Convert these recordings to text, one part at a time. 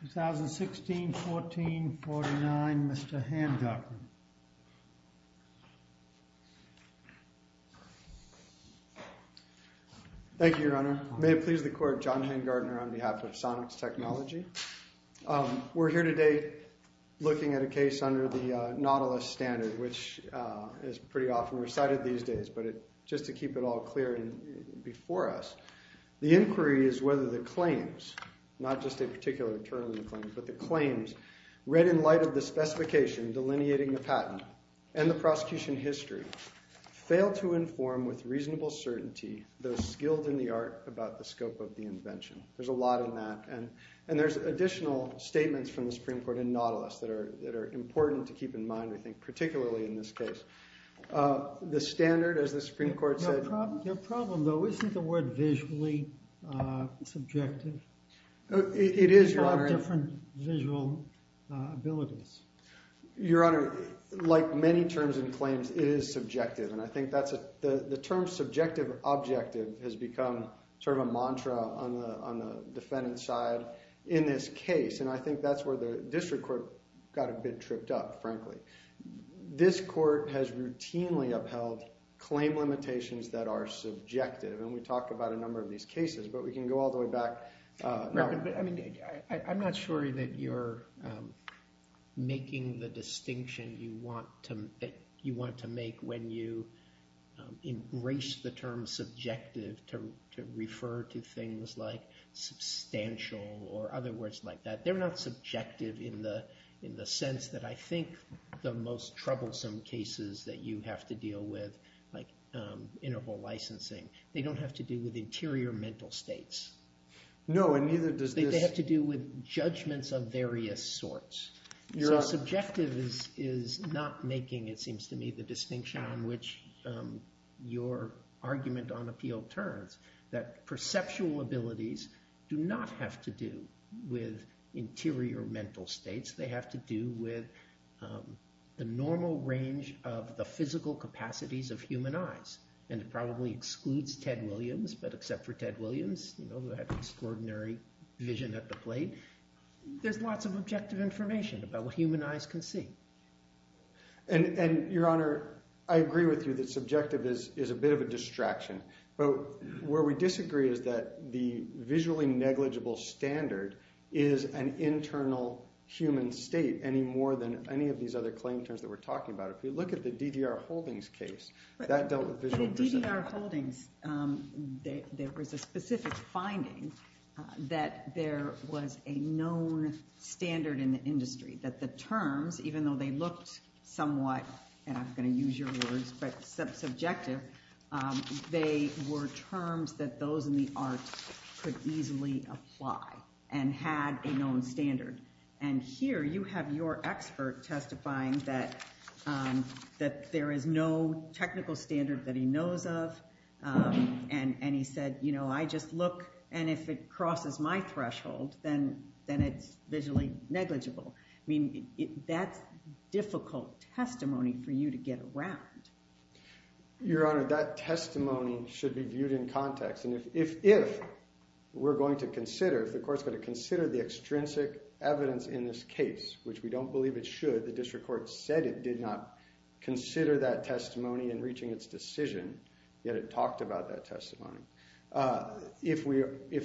2016-14-49, Mr. Hangardner. Thank you, Your Honor. May it please the Court, I'm John Hangardner on behalf of Sonix Technology. We're here today looking at a case under the Nautilus Standard, which is pretty often recited these days, but just to keep it all clear before us, the inquiry is whether the claims, not just a particular term in the claim, but the claims read in light of the specification delineating the patent and the prosecution history fail to inform with reasonable certainty those skilled in the art about the invention. There's a lot in that, and there's additional statements from the Supreme Court in Nautilus that are important to keep in mind, I think, particularly in this case. The standard, as the Supreme Court said... Your problem, though, isn't the word visually subjective? It is, Your Honor. There are different visual abilities. Your Honor, like many terms and claims, it is subjective, and I think the term subjective-objective has become sort of a buzzword on the defendant's side in this case, and I think that's where the district court got a bit tripped up, frankly. This court has routinely upheld claim limitations that are subjective, and we talked about a number of these cases, but we can go all the way back... I'm not sure that you're making the distinction you want to make when you embrace the term subjective to refer to things like substantial or other words like that. They're not subjective in the sense that I think the most troublesome cases that you have to deal with, like interval licensing, they don't have to do with interior mental states. No, and neither does this... They have to do with judgments of various sorts. Subjective is not making, it seems to me, the distinction on which your argument on appeal turns, that perceptual abilities do not have to do with interior mental states. They have to do with the normal range of the physical capacities of human eyes, and it probably excludes Ted Williams, but except for Ted Williams, who had extraordinary vision at the plate, there's lots of objective information about what human eyes can see. And Your Honor, I agree with you that subjective is a bit of a distraction, but where we disagree is that the visually negligible standard is an internal human state any more than any of these other claim terms that we're talking about. If you look at the DDR Holdings case, that dealt with visual perception. In DDR Holdings, there was a specific finding that there was a known standard in the industry, that the terms, even though they looked somewhat, and I'm going to use your words, but subjective, they were terms that those in the arts could easily apply and had a known standard. And here, you have your expert testifying that there is no technical standard that he knows of, and he said, you know, I just look, and if it crosses my threshold, then it's visually negligible. I mean, that's difficult testimony for you to get around. Your Honor, that testimony should be viewed in context, and if we're going to consider, if the court's going to consider the extrinsic evidence in this case, it should not consider that testimony in reaching its decision, yet it talked about that testimony. If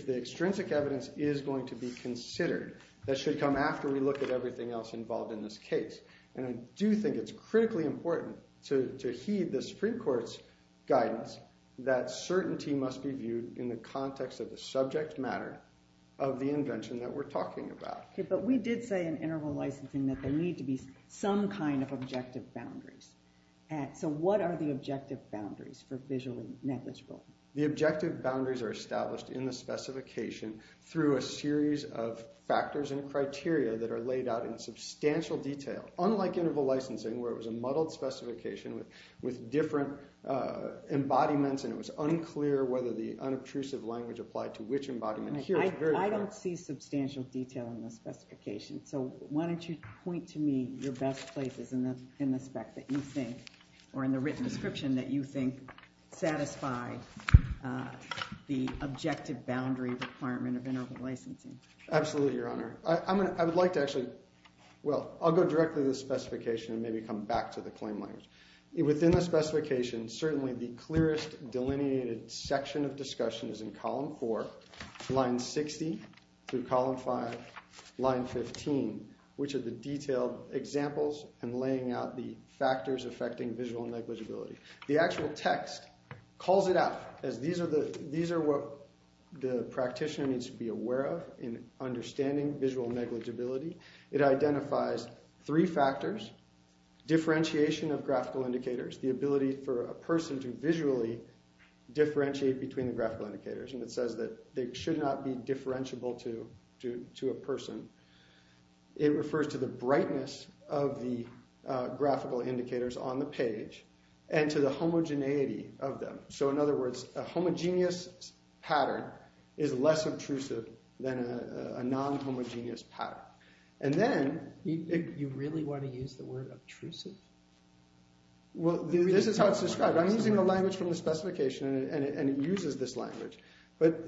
the extrinsic evidence is going to be considered, that should come after we look at everything else involved in this case, and I do think it's critically important to heed the Supreme Court's guidance that certainty must be viewed in the context of the subject matter of the invention that we're talking about. But we did say in interval licensing that there need to be some kind of objective boundaries, so what are the objective boundaries for visually negligible? The objective boundaries are established in the specification through a series of factors and criteria that are laid out in substantial detail, unlike interval licensing, where it was a muddled specification with different embodiments, and it was unclear whether the unobtrusive language applied to which embodiment. I don't see substantial detail in the specification, so why don't you point to me your best places in the spec that you think, or in the written description that you think, satisfy the objective boundary requirement of interval licensing. Absolutely, Your Honor. I would like to actually, well, I'll go directly to the specification and maybe come back to the claim language. Within the specification, certainly the clearest delineated section of discussion is in column four, line 60, through column five, line 15, which are the detailed examples and laying out the factors affecting visual negligibility. The actual text calls it out, as these are what the practitioner needs to be aware of in understanding visual negligibility. It identifies three factors, differentiation of graphical indicators, the ability for a person to visually differentiate between the graphical indicators, and it says that they should not be differentiable to a person. It refers to the brightness of the graphical indicators on the page and to the homogeneity of them. So, in other words, a homogeneous pattern is less obtrusive than a non-homogeneous pattern. And then... You really want to use the word obtrusive? Well, this is how it's described. I'm using the language from the specification and it uses this language, but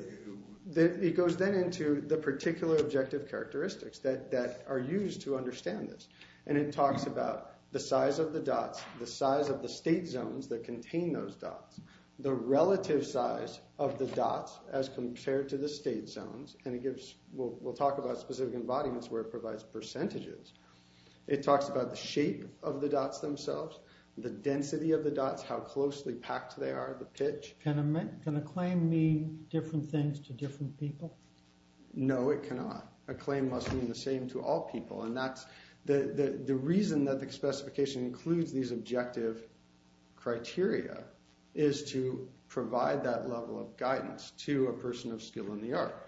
it goes then into the particular objective characteristics that are used to understand this. And it talks about the size of the dots, the size of the state zones that contain those dots, the relative size of the dots as compared to the state zones, and it gives, we'll talk about specific embodiments where it provides percentages. It talks about the shape of the dots themselves, the density of the dots, how closely packed they are, the pitch. Can a claim mean different things to different people? No, it cannot. A claim must mean the same to all people, and that's the reason that the specification includes these objective criteria, is to provide that level of guidance to a person of skill in the art.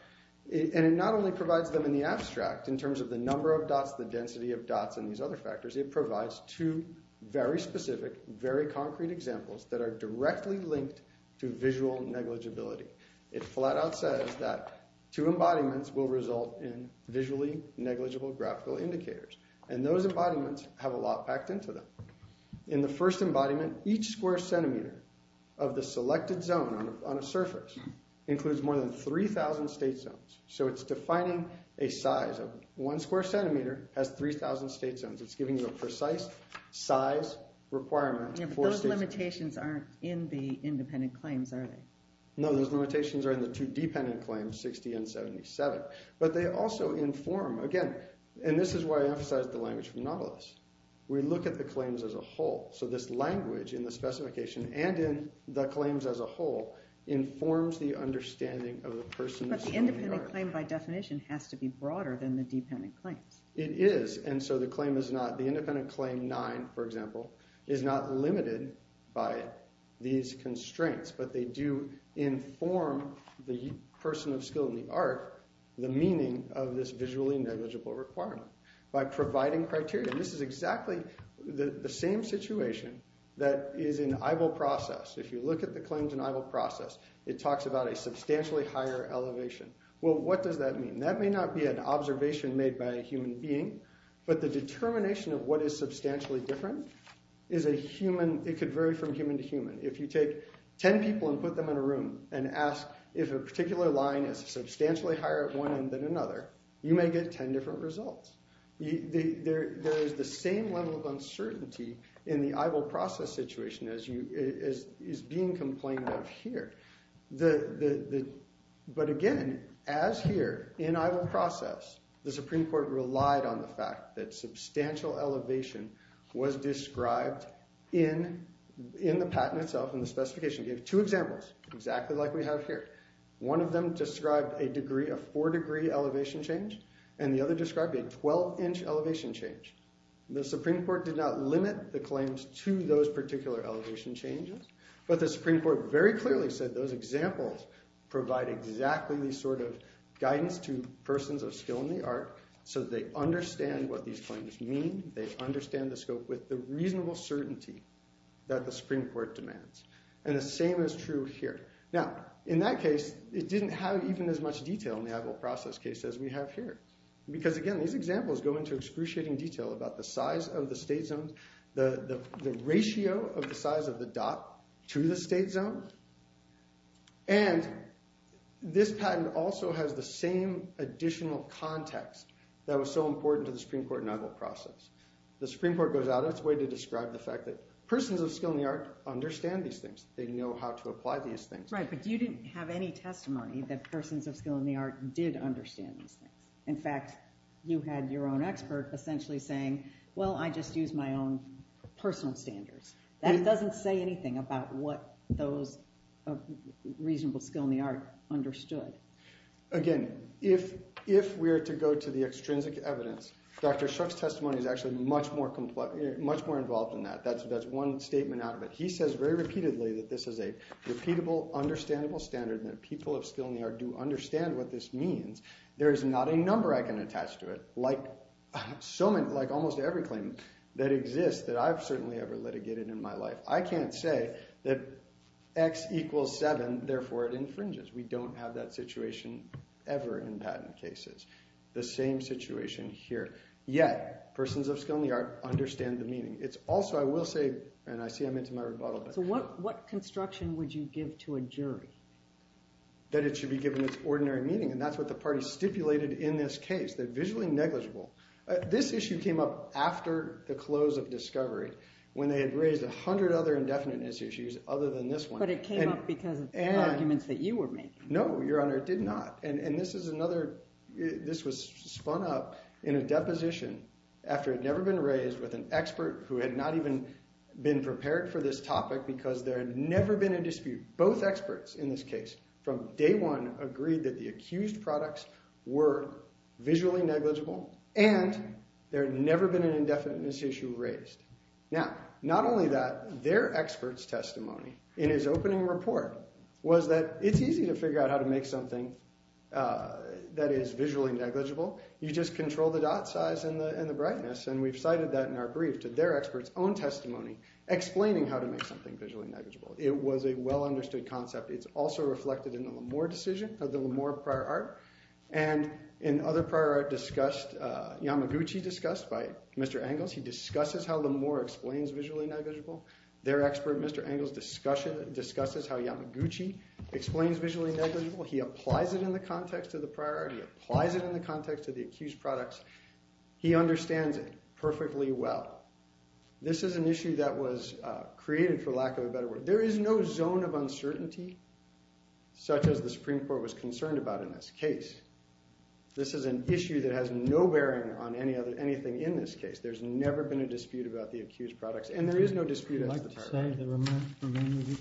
And it not only provides them in the abstract, in terms of the number of dots, the density of dots, and these other factors, it provides two very specific, very concrete examples that are directly linked to visual negligibility. It flat out says that two embodiments will result in visually negligible graphical indicators, and those embodiments have a lot packed into them. In the first embodiment, each square centimeter of the selected zone on a surface includes more than 3,000 state zones. So it's defining a size of, one square centimeter has 3,000 state zones. It's giving you a precise size requirement. Yeah, but those limitations aren't in the independent claims, are they? No, those limitations are in the two dependent claims, 60 and 77. But they also inform, again, and this is why I emphasized the language from Nautilus. We look at the claims as a whole, so this language in the specification and in the claims as a whole informs the understanding of the person of skill in the art. But the independent claim, by definition, has to be broader than the dependent claims. It is, and so the claim is not, the independent claim 9, for example, is not limited by these constraints, but they do inform the person of skill in the art the meaning of this visually negligible requirement by providing criteria. This is exactly the same situation that is in EIVL process. If you look at the claims in EIVL process, it talks about a substantially higher elevation. Well, what does that mean? That may not be an observation made by a human being, but the determination of what is substantially different is a human, it could vary from human to human. If you take 10 people and put them in a room and ask if a particular line is substantially higher at one end than another, you may get 10 different results. There is the same level of uncertainty in the EIVL process situation as is being complained of here. But again, as here in EIVL process, the Supreme Court relied on the fact that substantial elevation was described in the patent itself, in the specification, gave two examples, exactly like we have here. One of them described a degree of four degree elevation change, and the other described a 12 inch elevation change. The Supreme Court did not limit the claims to those particular elevation changes, but the Supreme Court very clearly said those examples provide exactly the sort of guidance to persons of skill in the art, so they understand what these claims mean, they understand the scope with the reasonable certainty that the Supreme Court demands. And the same is true here. Now, in that case, it didn't have even as much detail in the EIVL process case as we have here. Because again, these examples go into excruciating detail about the size of the state zones, the ratio of the size of the dot to the state zone. And this patent also has the same additional context that was so important to the Supreme Court EIVL process. The Supreme Court goes out of its way to describe the fact that persons of skill in the art understand these things, they know how to apply these things. Right, but you didn't have any testimony that persons of skill in the art did understand these things. In fact, you had your own expert essentially saying, well, I just use my own personal standards. That doesn't say anything about what those reasonable skill in the art understood. Again, if we're to go to the extrinsic evidence, Dr. Shook's testimony is actually much more complex, much more involved in that. That's one statement out of it. He says very repeatedly that this is a repeatable, understandable standard that people of skill in the art do understand what this means. There is not a number I can attach to it, like so many, like almost every claim that exists that I've certainly ever litigated in my life. I can't say that X equals seven, therefore it infringes. We don't have that situation ever in patent cases. The same situation here. Yet, persons of skill in the art understand the meaning. It's also, I will say, and I see I'm into my rebuttal. So what construction would you give to a jury? That it should be given its ordinary meaning. And that's what the party stipulated in this case. They're visually negligible. This issue came up after the close of Discovery, when they had raised a hundred other indefiniteness issues other than this one. But it came up because of the arguments that you were making. No, Your Honor, it did not. And this is another, this was spun up in a deposition after it had never been raised with an expert who had not even been prepared for this topic because there had never been a dispute. Both experts in this case from day one agreed that the accused products were visually negligible and there had never been an indefiniteness issue raised. Now, not only that, their expert's testimony in his opening report was that it's easy to figure out how to make something that is visually negligible. You just control the dot size and the brightness. And we've cited that in our brief to their expert's own testimony, explaining how to make something visually negligible. It was a well-understood concept. It's also reflected in the L'Amour decision, of the L'Amour prior art. And in other prior art discussed, Yamaguchi discussed by Mr. Angles, he discusses how L'Amour explains visually negligible. Their expert, Mr. Angles, discusses how Yamaguchi explains visually negligible. He applies it in the context of the prior art. He applies it in the context of the accused products. He understands it perfectly well. This is an issue that was created, for lack of a better word. There is no zone of uncertainty, such as the Supreme Court was concerned about in this case. This is an issue that has no bearing on anything in this case. There's never been a dispute about the accused products. And there is no zone of uncertainty.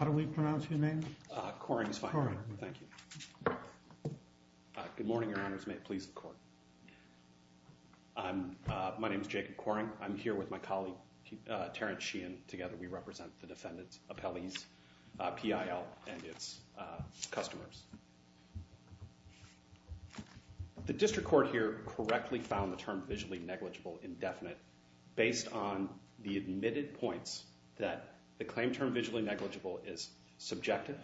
How do we pronounce your name? Coring is fine. Thank you. Good morning, your honors. May it please the court. My name is Jacob Coring. I'm here with my colleague, Terence Sheehan. Together, we represent the defendant's appellees, PIL, and its customers. The district court here correctly found the term visually negligible indefinite, based on the admitted points that the claim term visually negligible is subjective,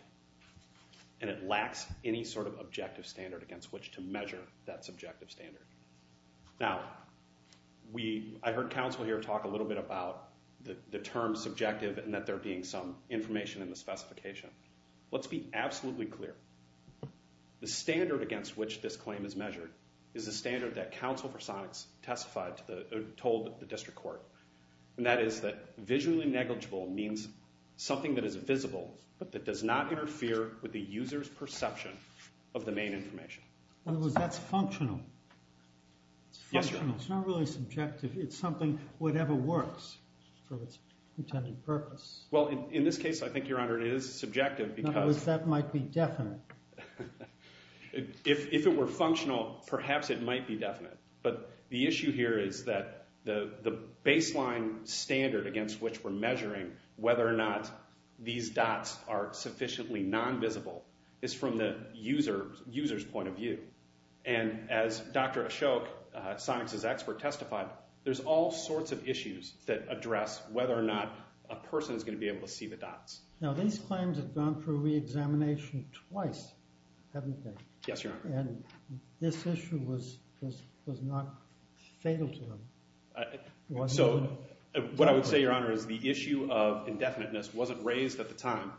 and it lacks any sort of objective standard against which to measure that subjective standard. Now, I heard counsel here talk a little bit about the term subjective and that there being some information in the specification. Let's be absolutely clear. The standard against which this claim is measured is the standard that counsel for Sonics testified to the told the district court. And that is that visually negligible means something that is visible, but that does not interfere with the user's perception of the main information. In other words, that's functional. It's functional. It's not really subjective. It's something whatever works for its intended purpose. Well, in this case, I think, your honor, it is subjective. In other words, that might be definite. If it were functional, perhaps it might be definite. But the issue here is that the baseline standard against which we're measuring whether or not these dots are sufficiently non-visible is from the user's point of view. And as Dr. Ashok, Sonics' expert, testified, there's all sorts of issues that address whether or not a person is going to be able to see the dots. Now, these claims have gone through re-examination twice, haven't they? Yes, your honor. And this issue was not fatal to them. So what I would say, your honor, is the issue of indefiniteness wasn't raised at the time,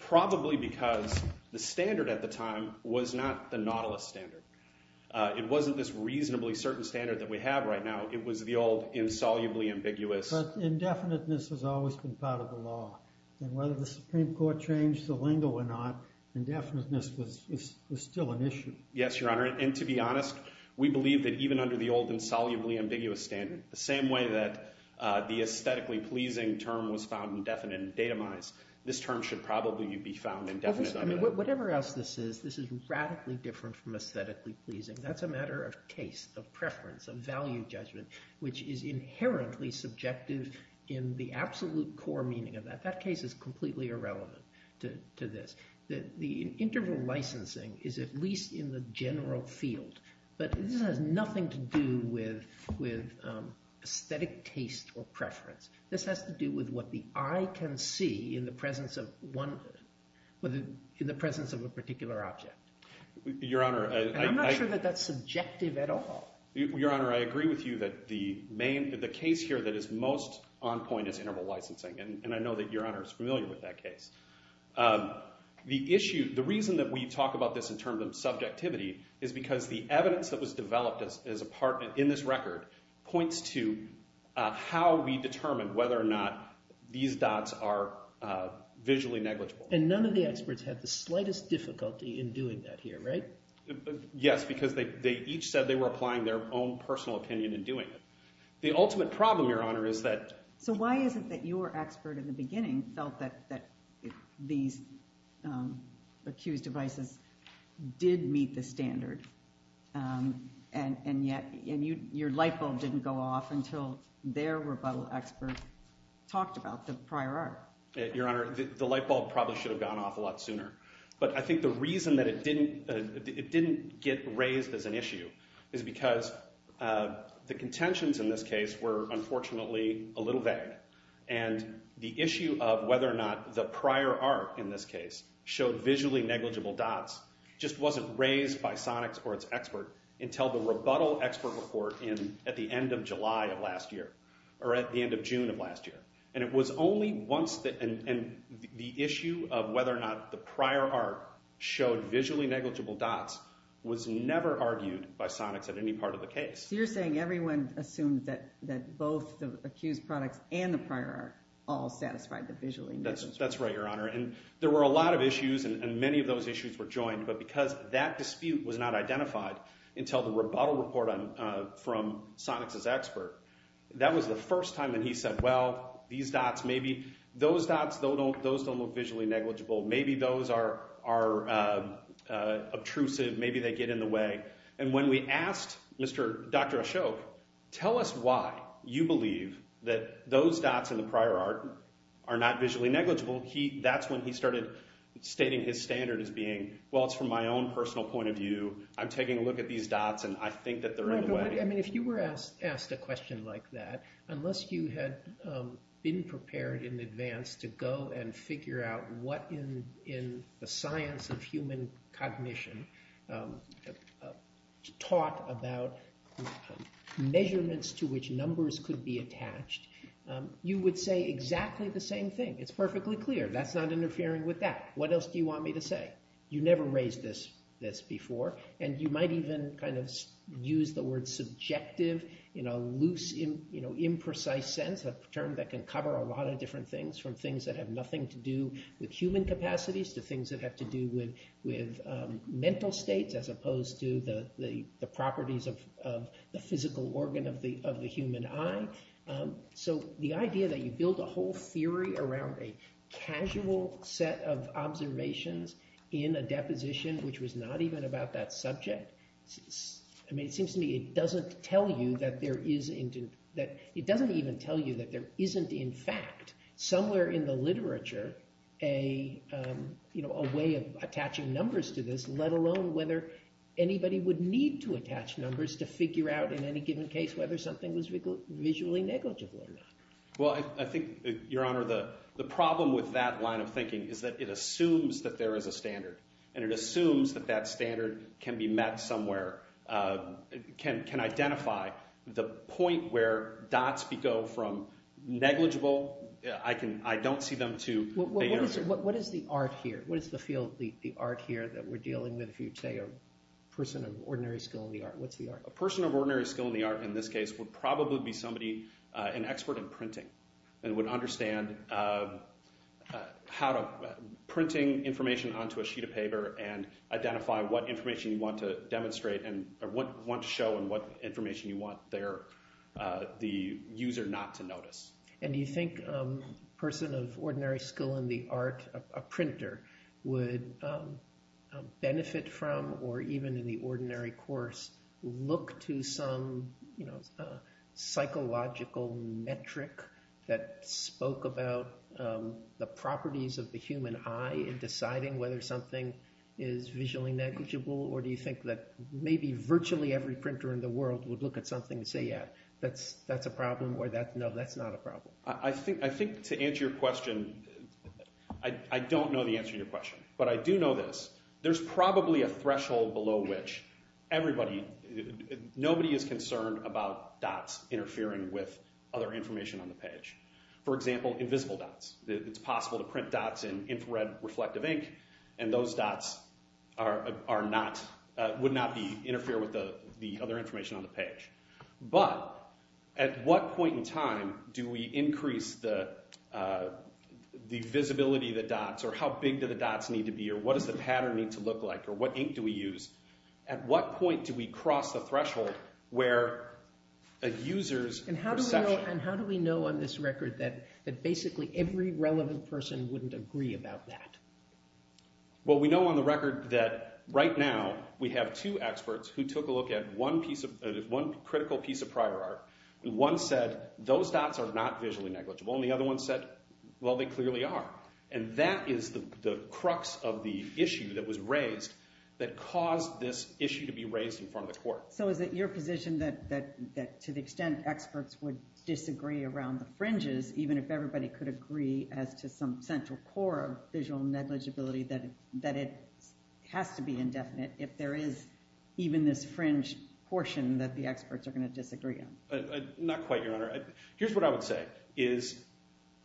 probably because the standard at the time was not the Nautilus standard. It wasn't this reasonably certain standard that we have right now. It was the old insolubly ambiguous. But indefiniteness has always been part of the law. And whether the Supreme Court changed the lingo or not, indefiniteness was still an issue. Yes, your honor. And to be honest, we believe that even under the old insolubly ambiguous standard, the same way that the aesthetically pleasing term was found indefinite and datamized, this term should probably be found indefinite under that. Whatever else this is, this is radically different from aesthetically pleasing. That's a matter of in the absolute core meaning of that. That case is completely irrelevant to this. The interval licensing is at least in the general field. But this has nothing to do with aesthetic taste or preference. This has to do with what the eye can see in the presence of a particular object. Your honor, I— I'm not sure that that's subjective at all. Your honor, I agree with you that the main—the case here that is most on point is interval licensing. And I know that your honor is familiar with that case. The reason that we talk about this in terms of subjectivity is because the evidence that was developed as a part in this record points to how we determine whether or not these dots are visually negligible. And none of the experts had the slightest difficulty in doing that here, right? Yes, because they each said they were applying their own personal opinion in doing it. The ultimate problem, your honor, is that— So why is it that your expert in the beginning felt that these accused devices did meet the standard and yet your light bulb didn't go off until their rebuttal expert talked about the prior art? Your honor, the light bulb probably should have gone off a lot sooner. But I think the reason that it didn't—it didn't get raised as an issue is because the contentions in this case were unfortunately a little vague. And the issue of whether or not the prior art in this case showed visually negligible dots just wasn't raised by Sonix or its expert until the rebuttal expert report in—at the end of July of last year, or at the end of June of last year. And it was only once that—and the issue of whether or not the prior art showed visually negligible dots was never argued by Sonix at any part of the case. So you're saying everyone assumed that both the accused products and the prior art all satisfied the visually negligible— That's right, your honor. And there were a lot of issues, and many of those issues were joined. But because that dispute was not identified until the rebuttal report from Sonix's expert, that was the first time that he said, well, these dots, maybe—those dots, those don't look visually negligible. Maybe those are—are obtrusive. Maybe they get in the way. And when we asked Mr.—Dr. Ashok, tell us why you believe that those dots in the prior art are not visually negligible, he—that's when he started stating his standard as being, well, it's from my own personal point of view. I mean, if you were asked a question like that, unless you had been prepared in advance to go and figure out what in the science of human cognition taught about measurements to which numbers could be attached, you would say exactly the same thing. It's perfectly clear. That's not interfering with that. What else do you want me to say? You never raised this before. And you might even kind of use the word subjective in a loose, you know, imprecise sense, a term that can cover a lot of different things, from things that have nothing to do with human capacities to things that have to do with mental states as opposed to the properties of the physical organ of the human eye. So the idea that you build a whole theory around a casual set of observations in a deposition, which was not even about that subject, I mean, it seems to me it doesn't even tell you that there isn't, in fact, somewhere in the literature a way of attaching numbers to this, let alone whether anybody would need to attach numbers to figure out in any given case whether something was visually negligible or not. Well, I think, Your Honor, the problem with that line of thinking is that it assumes that there is a standard. And it assumes that that standard can be met somewhere, can identify the point where dots go from negligible, I don't see them to the answer. What is the art here? What is the field, the art here that we're dealing with if you'd say a person of ordinary skill in the art? What's the art? A person of ordinary skill in the art in this case would probably be somebody, an expert in printing, and would understand how to, bring information onto a sheet of paper and identify what information you want to demonstrate and what you want to show and what information you want the user not to notice. And do you think a person of ordinary skill in the art, a printer, would benefit from, or even in the ordinary course, look to some psychological metric that spoke about the properties of the human eye in deciding whether something is visually negligible? Or do you think that maybe virtually every printer in the world would look at something and say, yeah, that's a problem, or no, that's not a problem? I think to answer your question, I don't know the answer to your question, but I do know this. There's probably a threshold below which everybody, nobody is concerned about dots interfering with other information on the page. For example, invisible dots. It's possible to print dots in infrared reflective ink, and those dots are not, would not interfere with the other information on the page. But at what point in time do we increase the visibility of the dots, or how big do the dots need to be, or what does the pattern need to look like, or what ink do we use? At what point do we cross the threshold where a user's perception- And how do we know on this record that basically every relevant person wouldn't agree about that? Well, we know on the record that right now, we have two experts who took a look at one critical piece of prior art, and one said, those dots are not visually negligible, and the other one said, well, they clearly are. And that is the crux of the issue that was raised that caused this issue to be raised in front of the court. So is it your position that to the extent experts would disagree around the fringes, even if everybody could agree as to some central core of visual negligibility, that it has to be indefinite if there is even this fringe portion that the experts are gonna disagree on? Not quite, Your Honor. Here's what I would say, is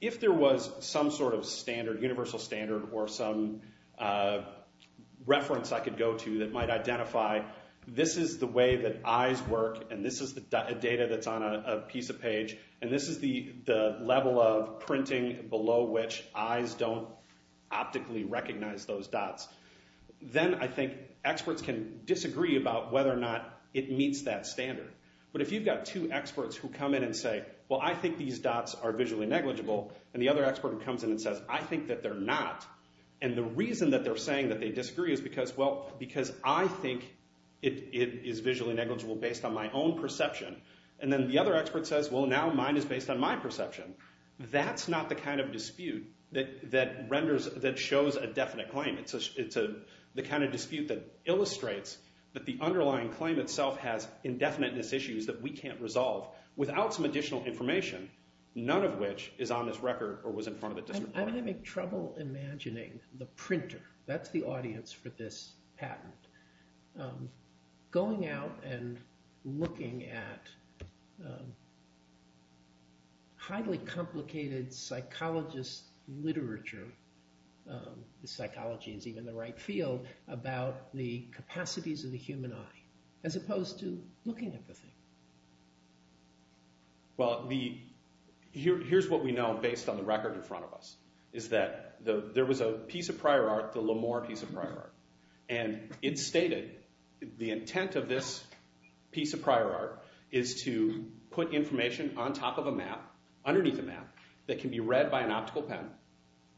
if there was some sort of standard, universal standard, or some reference I could go to that might identify this is the way that eyes work, and this is the data that's on a piece of page, and this is the level of printing below which eyes don't optically recognize those dots, then I think experts can disagree about whether or not it meets that standard. But if you've got two experts who come in and say, well, I think these dots are visually negligible, and the other expert comes in and says, I think that they're not, and the reason that they're saying that they disagree is because, well, because I think it is visually negligible based on my own perception. And then the other expert says, well, now mine is based on my perception. That's not the kind of dispute that shows a definite claim. It's the kind of dispute that illustrates that the underlying claim itself has indefiniteness issues that we can't resolve without some additional information, none of which is on this record or was in front of the district court. I'm having trouble imagining the printer, that's the audience for this patent, going out and looking at highly complicated psychologist literature, the psychology is even the right field, about the capacities of the human eye as opposed to looking at the thing. Well, here's what we know based on the record in front of us is that there was a piece of prior art, the L'Amour piece of prior art, and it stated the intent of this piece of prior art is to put information on top of a map, underneath the map, that can be read by an optical pen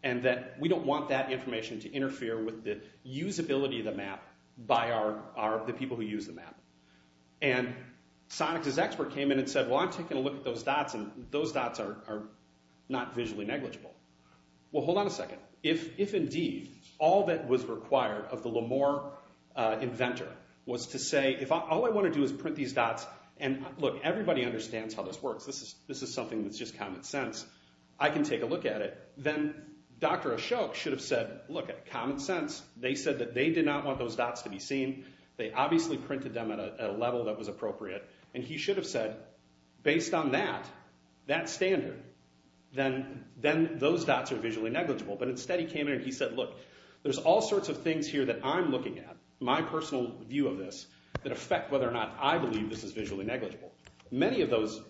and that we don't want that information to interfere with the usability of the map by the people who use the map. And Sonic's expert came in and said, well, I'm taking a look at those dots and those dots are not visually negligible. Well, hold on a second. If indeed all that was required of the L'Amour inventor was to say, if all I want to do is print these dots, and look, everybody understands how this works. This is something that's just common sense. I can take a look at it. Then Dr. Ashok should have said, look, common sense. They said that they did not want those dots to be seen. They obviously printed them at a level that was appropriate. And he should have said, based on that, that standard, then those dots are visually negligible. But instead he came in and he said, there's all sorts of things here that I'm looking at, my personal view of this, that affect whether or not I believe this is visually negligible. Many of those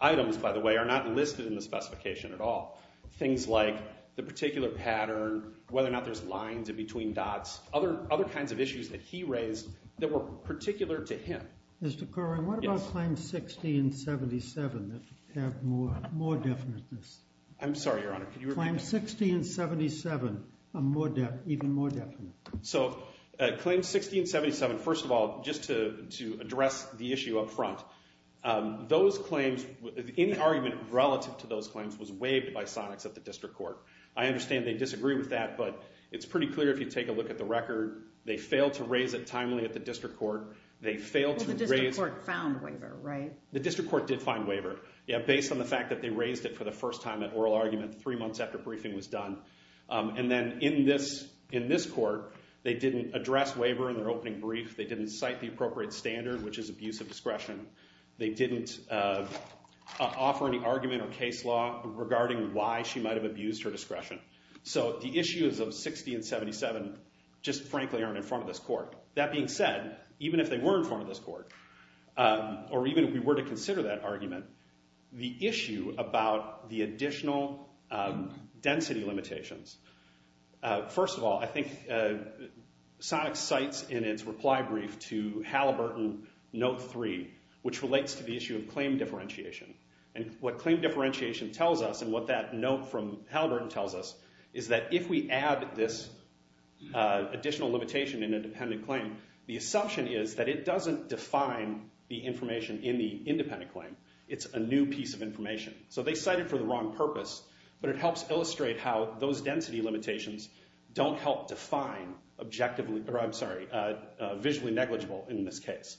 items, by the way, are not listed in the specification at all. Things like the particular pattern, whether or not there's lines in between dots, other kinds of issues that he raised that were particular to him. Mr. Corwin, what about Claims 60 and 77 that have more definiteness? I'm sorry, Your Honor, could you repeat that? Claims 60 and 77 are even more definite. So Claims 60 and 77, first of all, just to address the issue up front, those claims, any argument relative to those claims was waived by Sonex at the District Court. I understand they disagree with that, but it's pretty clear if you take a look at the record, they failed to raise it timely at the District Court. They failed to raise- Well, the District Court found waiver, right? The District Court did find waiver, yeah, based on the fact that they raised it for the first time at oral argument three months after briefing was done. And then in this court, they didn't address waiver in their opening brief. They didn't cite the appropriate standard, which is abuse of discretion. They didn't offer any argument or case law regarding why she might have abused her discretion. So the issues of 60 and 77 just frankly aren't in front of this court. That being said, even if they were in front of this court, or even if we were to consider that argument, the issue about the additional density limitations, first of all, I think Sonex cites in its reply brief to Halliburton note three, which relates to the issue of claim differentiation. And what claim differentiation tells us, and what that note from Halliburton tells us, is that if we add this additional limitation in a dependent claim, the assumption is that it doesn't define the information in the independent claim. It's a new piece of information. So they cite it for the wrong purpose, but it helps illustrate how those density limitations don't help define objectively, or I'm sorry, visually negligible in this case.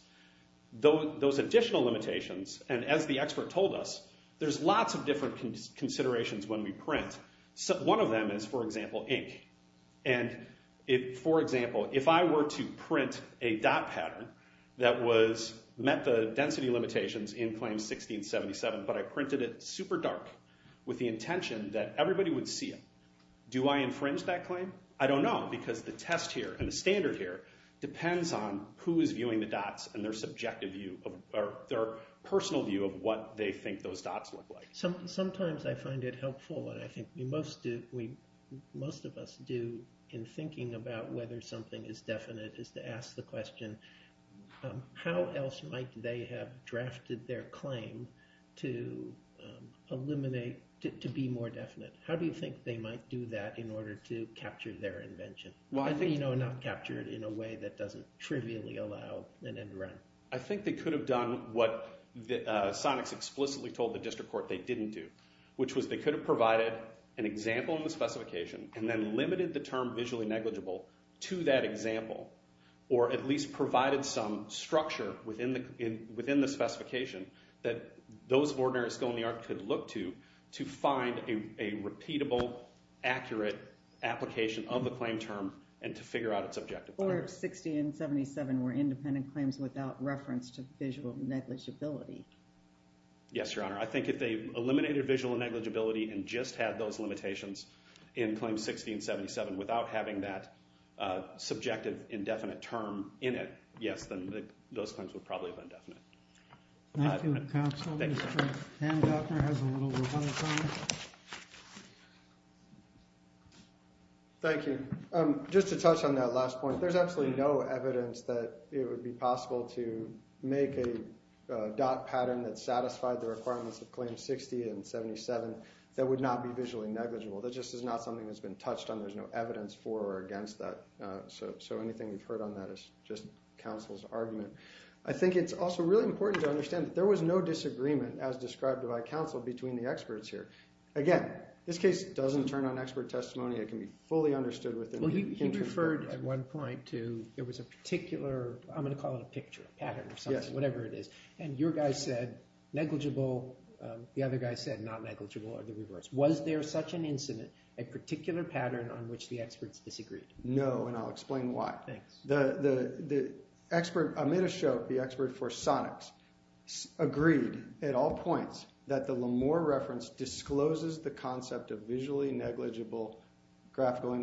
Those additional limitations, and as the expert told us, there's lots of different considerations when we print. One of them is, for example, ink. And for example, if I were to print a dot pattern that met the density limitations in claim 1677, but I printed it super dark with the intention that everybody would see it, do I infringe that claim? I don't know, because the test here, and the standard here, depends on who is viewing the dots and their subjective view, their personal view of what they think those dots look like. Sometimes I find it helpful, and I think most of us do, in thinking about whether something is definite, is to ask the question, how else might they have drafted their claim to eliminate, to be more definite? How do you think they might do that in order to capture their invention? I think, you know, not capture it in a way that doesn't trivially allow an end run. I think they could have done what Sonics explicitly told the district court they didn't do, which was they could have provided an example in the specification, and then limited the term visually negligible to that example, or at least provided some structure within the specification that those of ordinary skill in the art could look to, to find a repeatable, accurate application of the claim term, and to figure out its objective. Or 1677 were independent claims without reference to visual negligibility. Yes, Your Honor. I think if they eliminated visual negligibility, and just had those limitations in Claim 1677 without having that subjective, indefinite term in it, yes, then those claims would probably have been definite. Thank you, counsel. Mr. Hancock has a little rebuttal time. Thank you. Just to touch on that last point, there's absolutely no evidence that it would be possible to make a dot pattern that satisfied the requirements of Claim 1677 that would not be visually negligible. That just is not something that's been touched on. There's no evidence for or against that. So anything we've heard on that is just counsel's argument. I think it's also really important to understand that there was no disagreement, as described by counsel, between the experts here. Again, this case doesn't turn on expert testimony. It can be fully understood within... Well, he referred at one point to there was a particular, I'm going to call it a picture, pattern or something, whatever it is. And your guy said negligible. The other guy said not negligible or the reverse. Was there such an incident, a particular pattern on which the experts disagreed? No, and I'll explain why. Thanks. The expert, Amit Ashok, the expert for Sonics, agreed at all points that the Lemoore reference discloses the concept of visually negligible graphical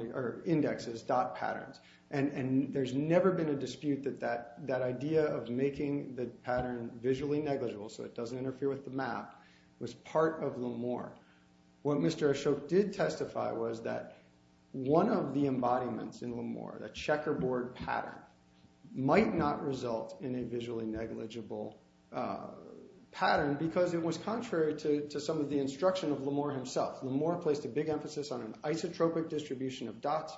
indexes, dot patterns. And there's never been a dispute that that idea of making the pattern visually negligible so it doesn't interfere with the map was part of Lemoore. What Mr. Ashok did testify was that one of the embodiments in Lemoore, the checkerboard pattern, might not result in a visually negligible pattern because it was contrary to some of the instruction of Lemoore himself. Lemoore placed a big emphasis on an isotropic distribution of dots.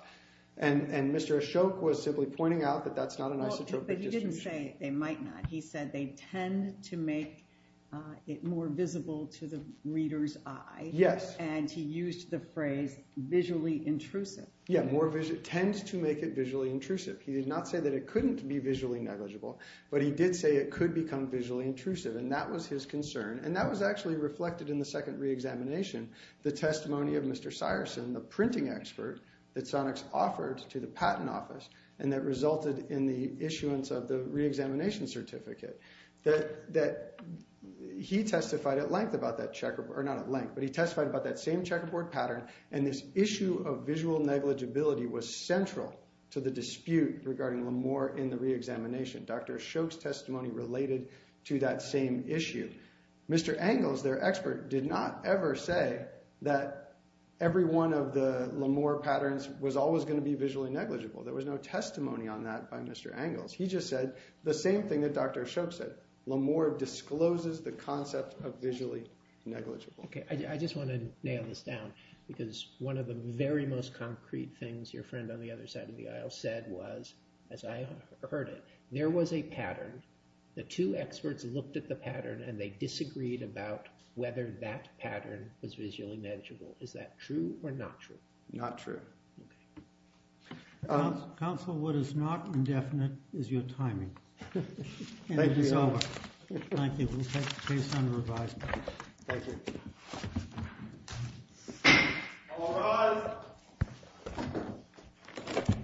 And Mr. Ashok was simply pointing out that that's not an isotropic distribution. But he didn't say they might not. He said they tend to make more visible to the reader's eye. Yes. And he used the phrase visually intrusive. Yeah, tend to make it visually intrusive. He did not say that it couldn't be visually negligible, but he did say it could become visually intrusive. And that was his concern. And that was actually reflected in the second re-examination, the testimony of Mr. Syreson, the printing expert that Sonics offered to the patent office and that resulted in the issuance of the re-examination certificate. That he testified at length about that checkerboard, or not at length, but he testified about that same checkerboard pattern. And this issue of visual negligibility was central to the dispute regarding Lemoore in the re-examination. Dr. Ashok's testimony related to that same issue. Mr. Angles, their expert, did not ever say that every one of the Lemoore patterns was always going to be visually negligible. There was no testimony on that by Mr. Angles. He just said the same thing that Dr. Ashok said. Lemoore discloses the concept of visually negligible. OK, I just want to nail this down because one of the very most concrete things your friend on the other side of the aisle said was, as I heard it, there was a pattern. The two experts looked at the pattern and they disagreed about whether that pattern was visually negligible. Is that true or not true? Not true. Counsel, what is not indefinite is your timing. Thank you so much. Thank you. We'll take case under advisement. Thank you. All rise.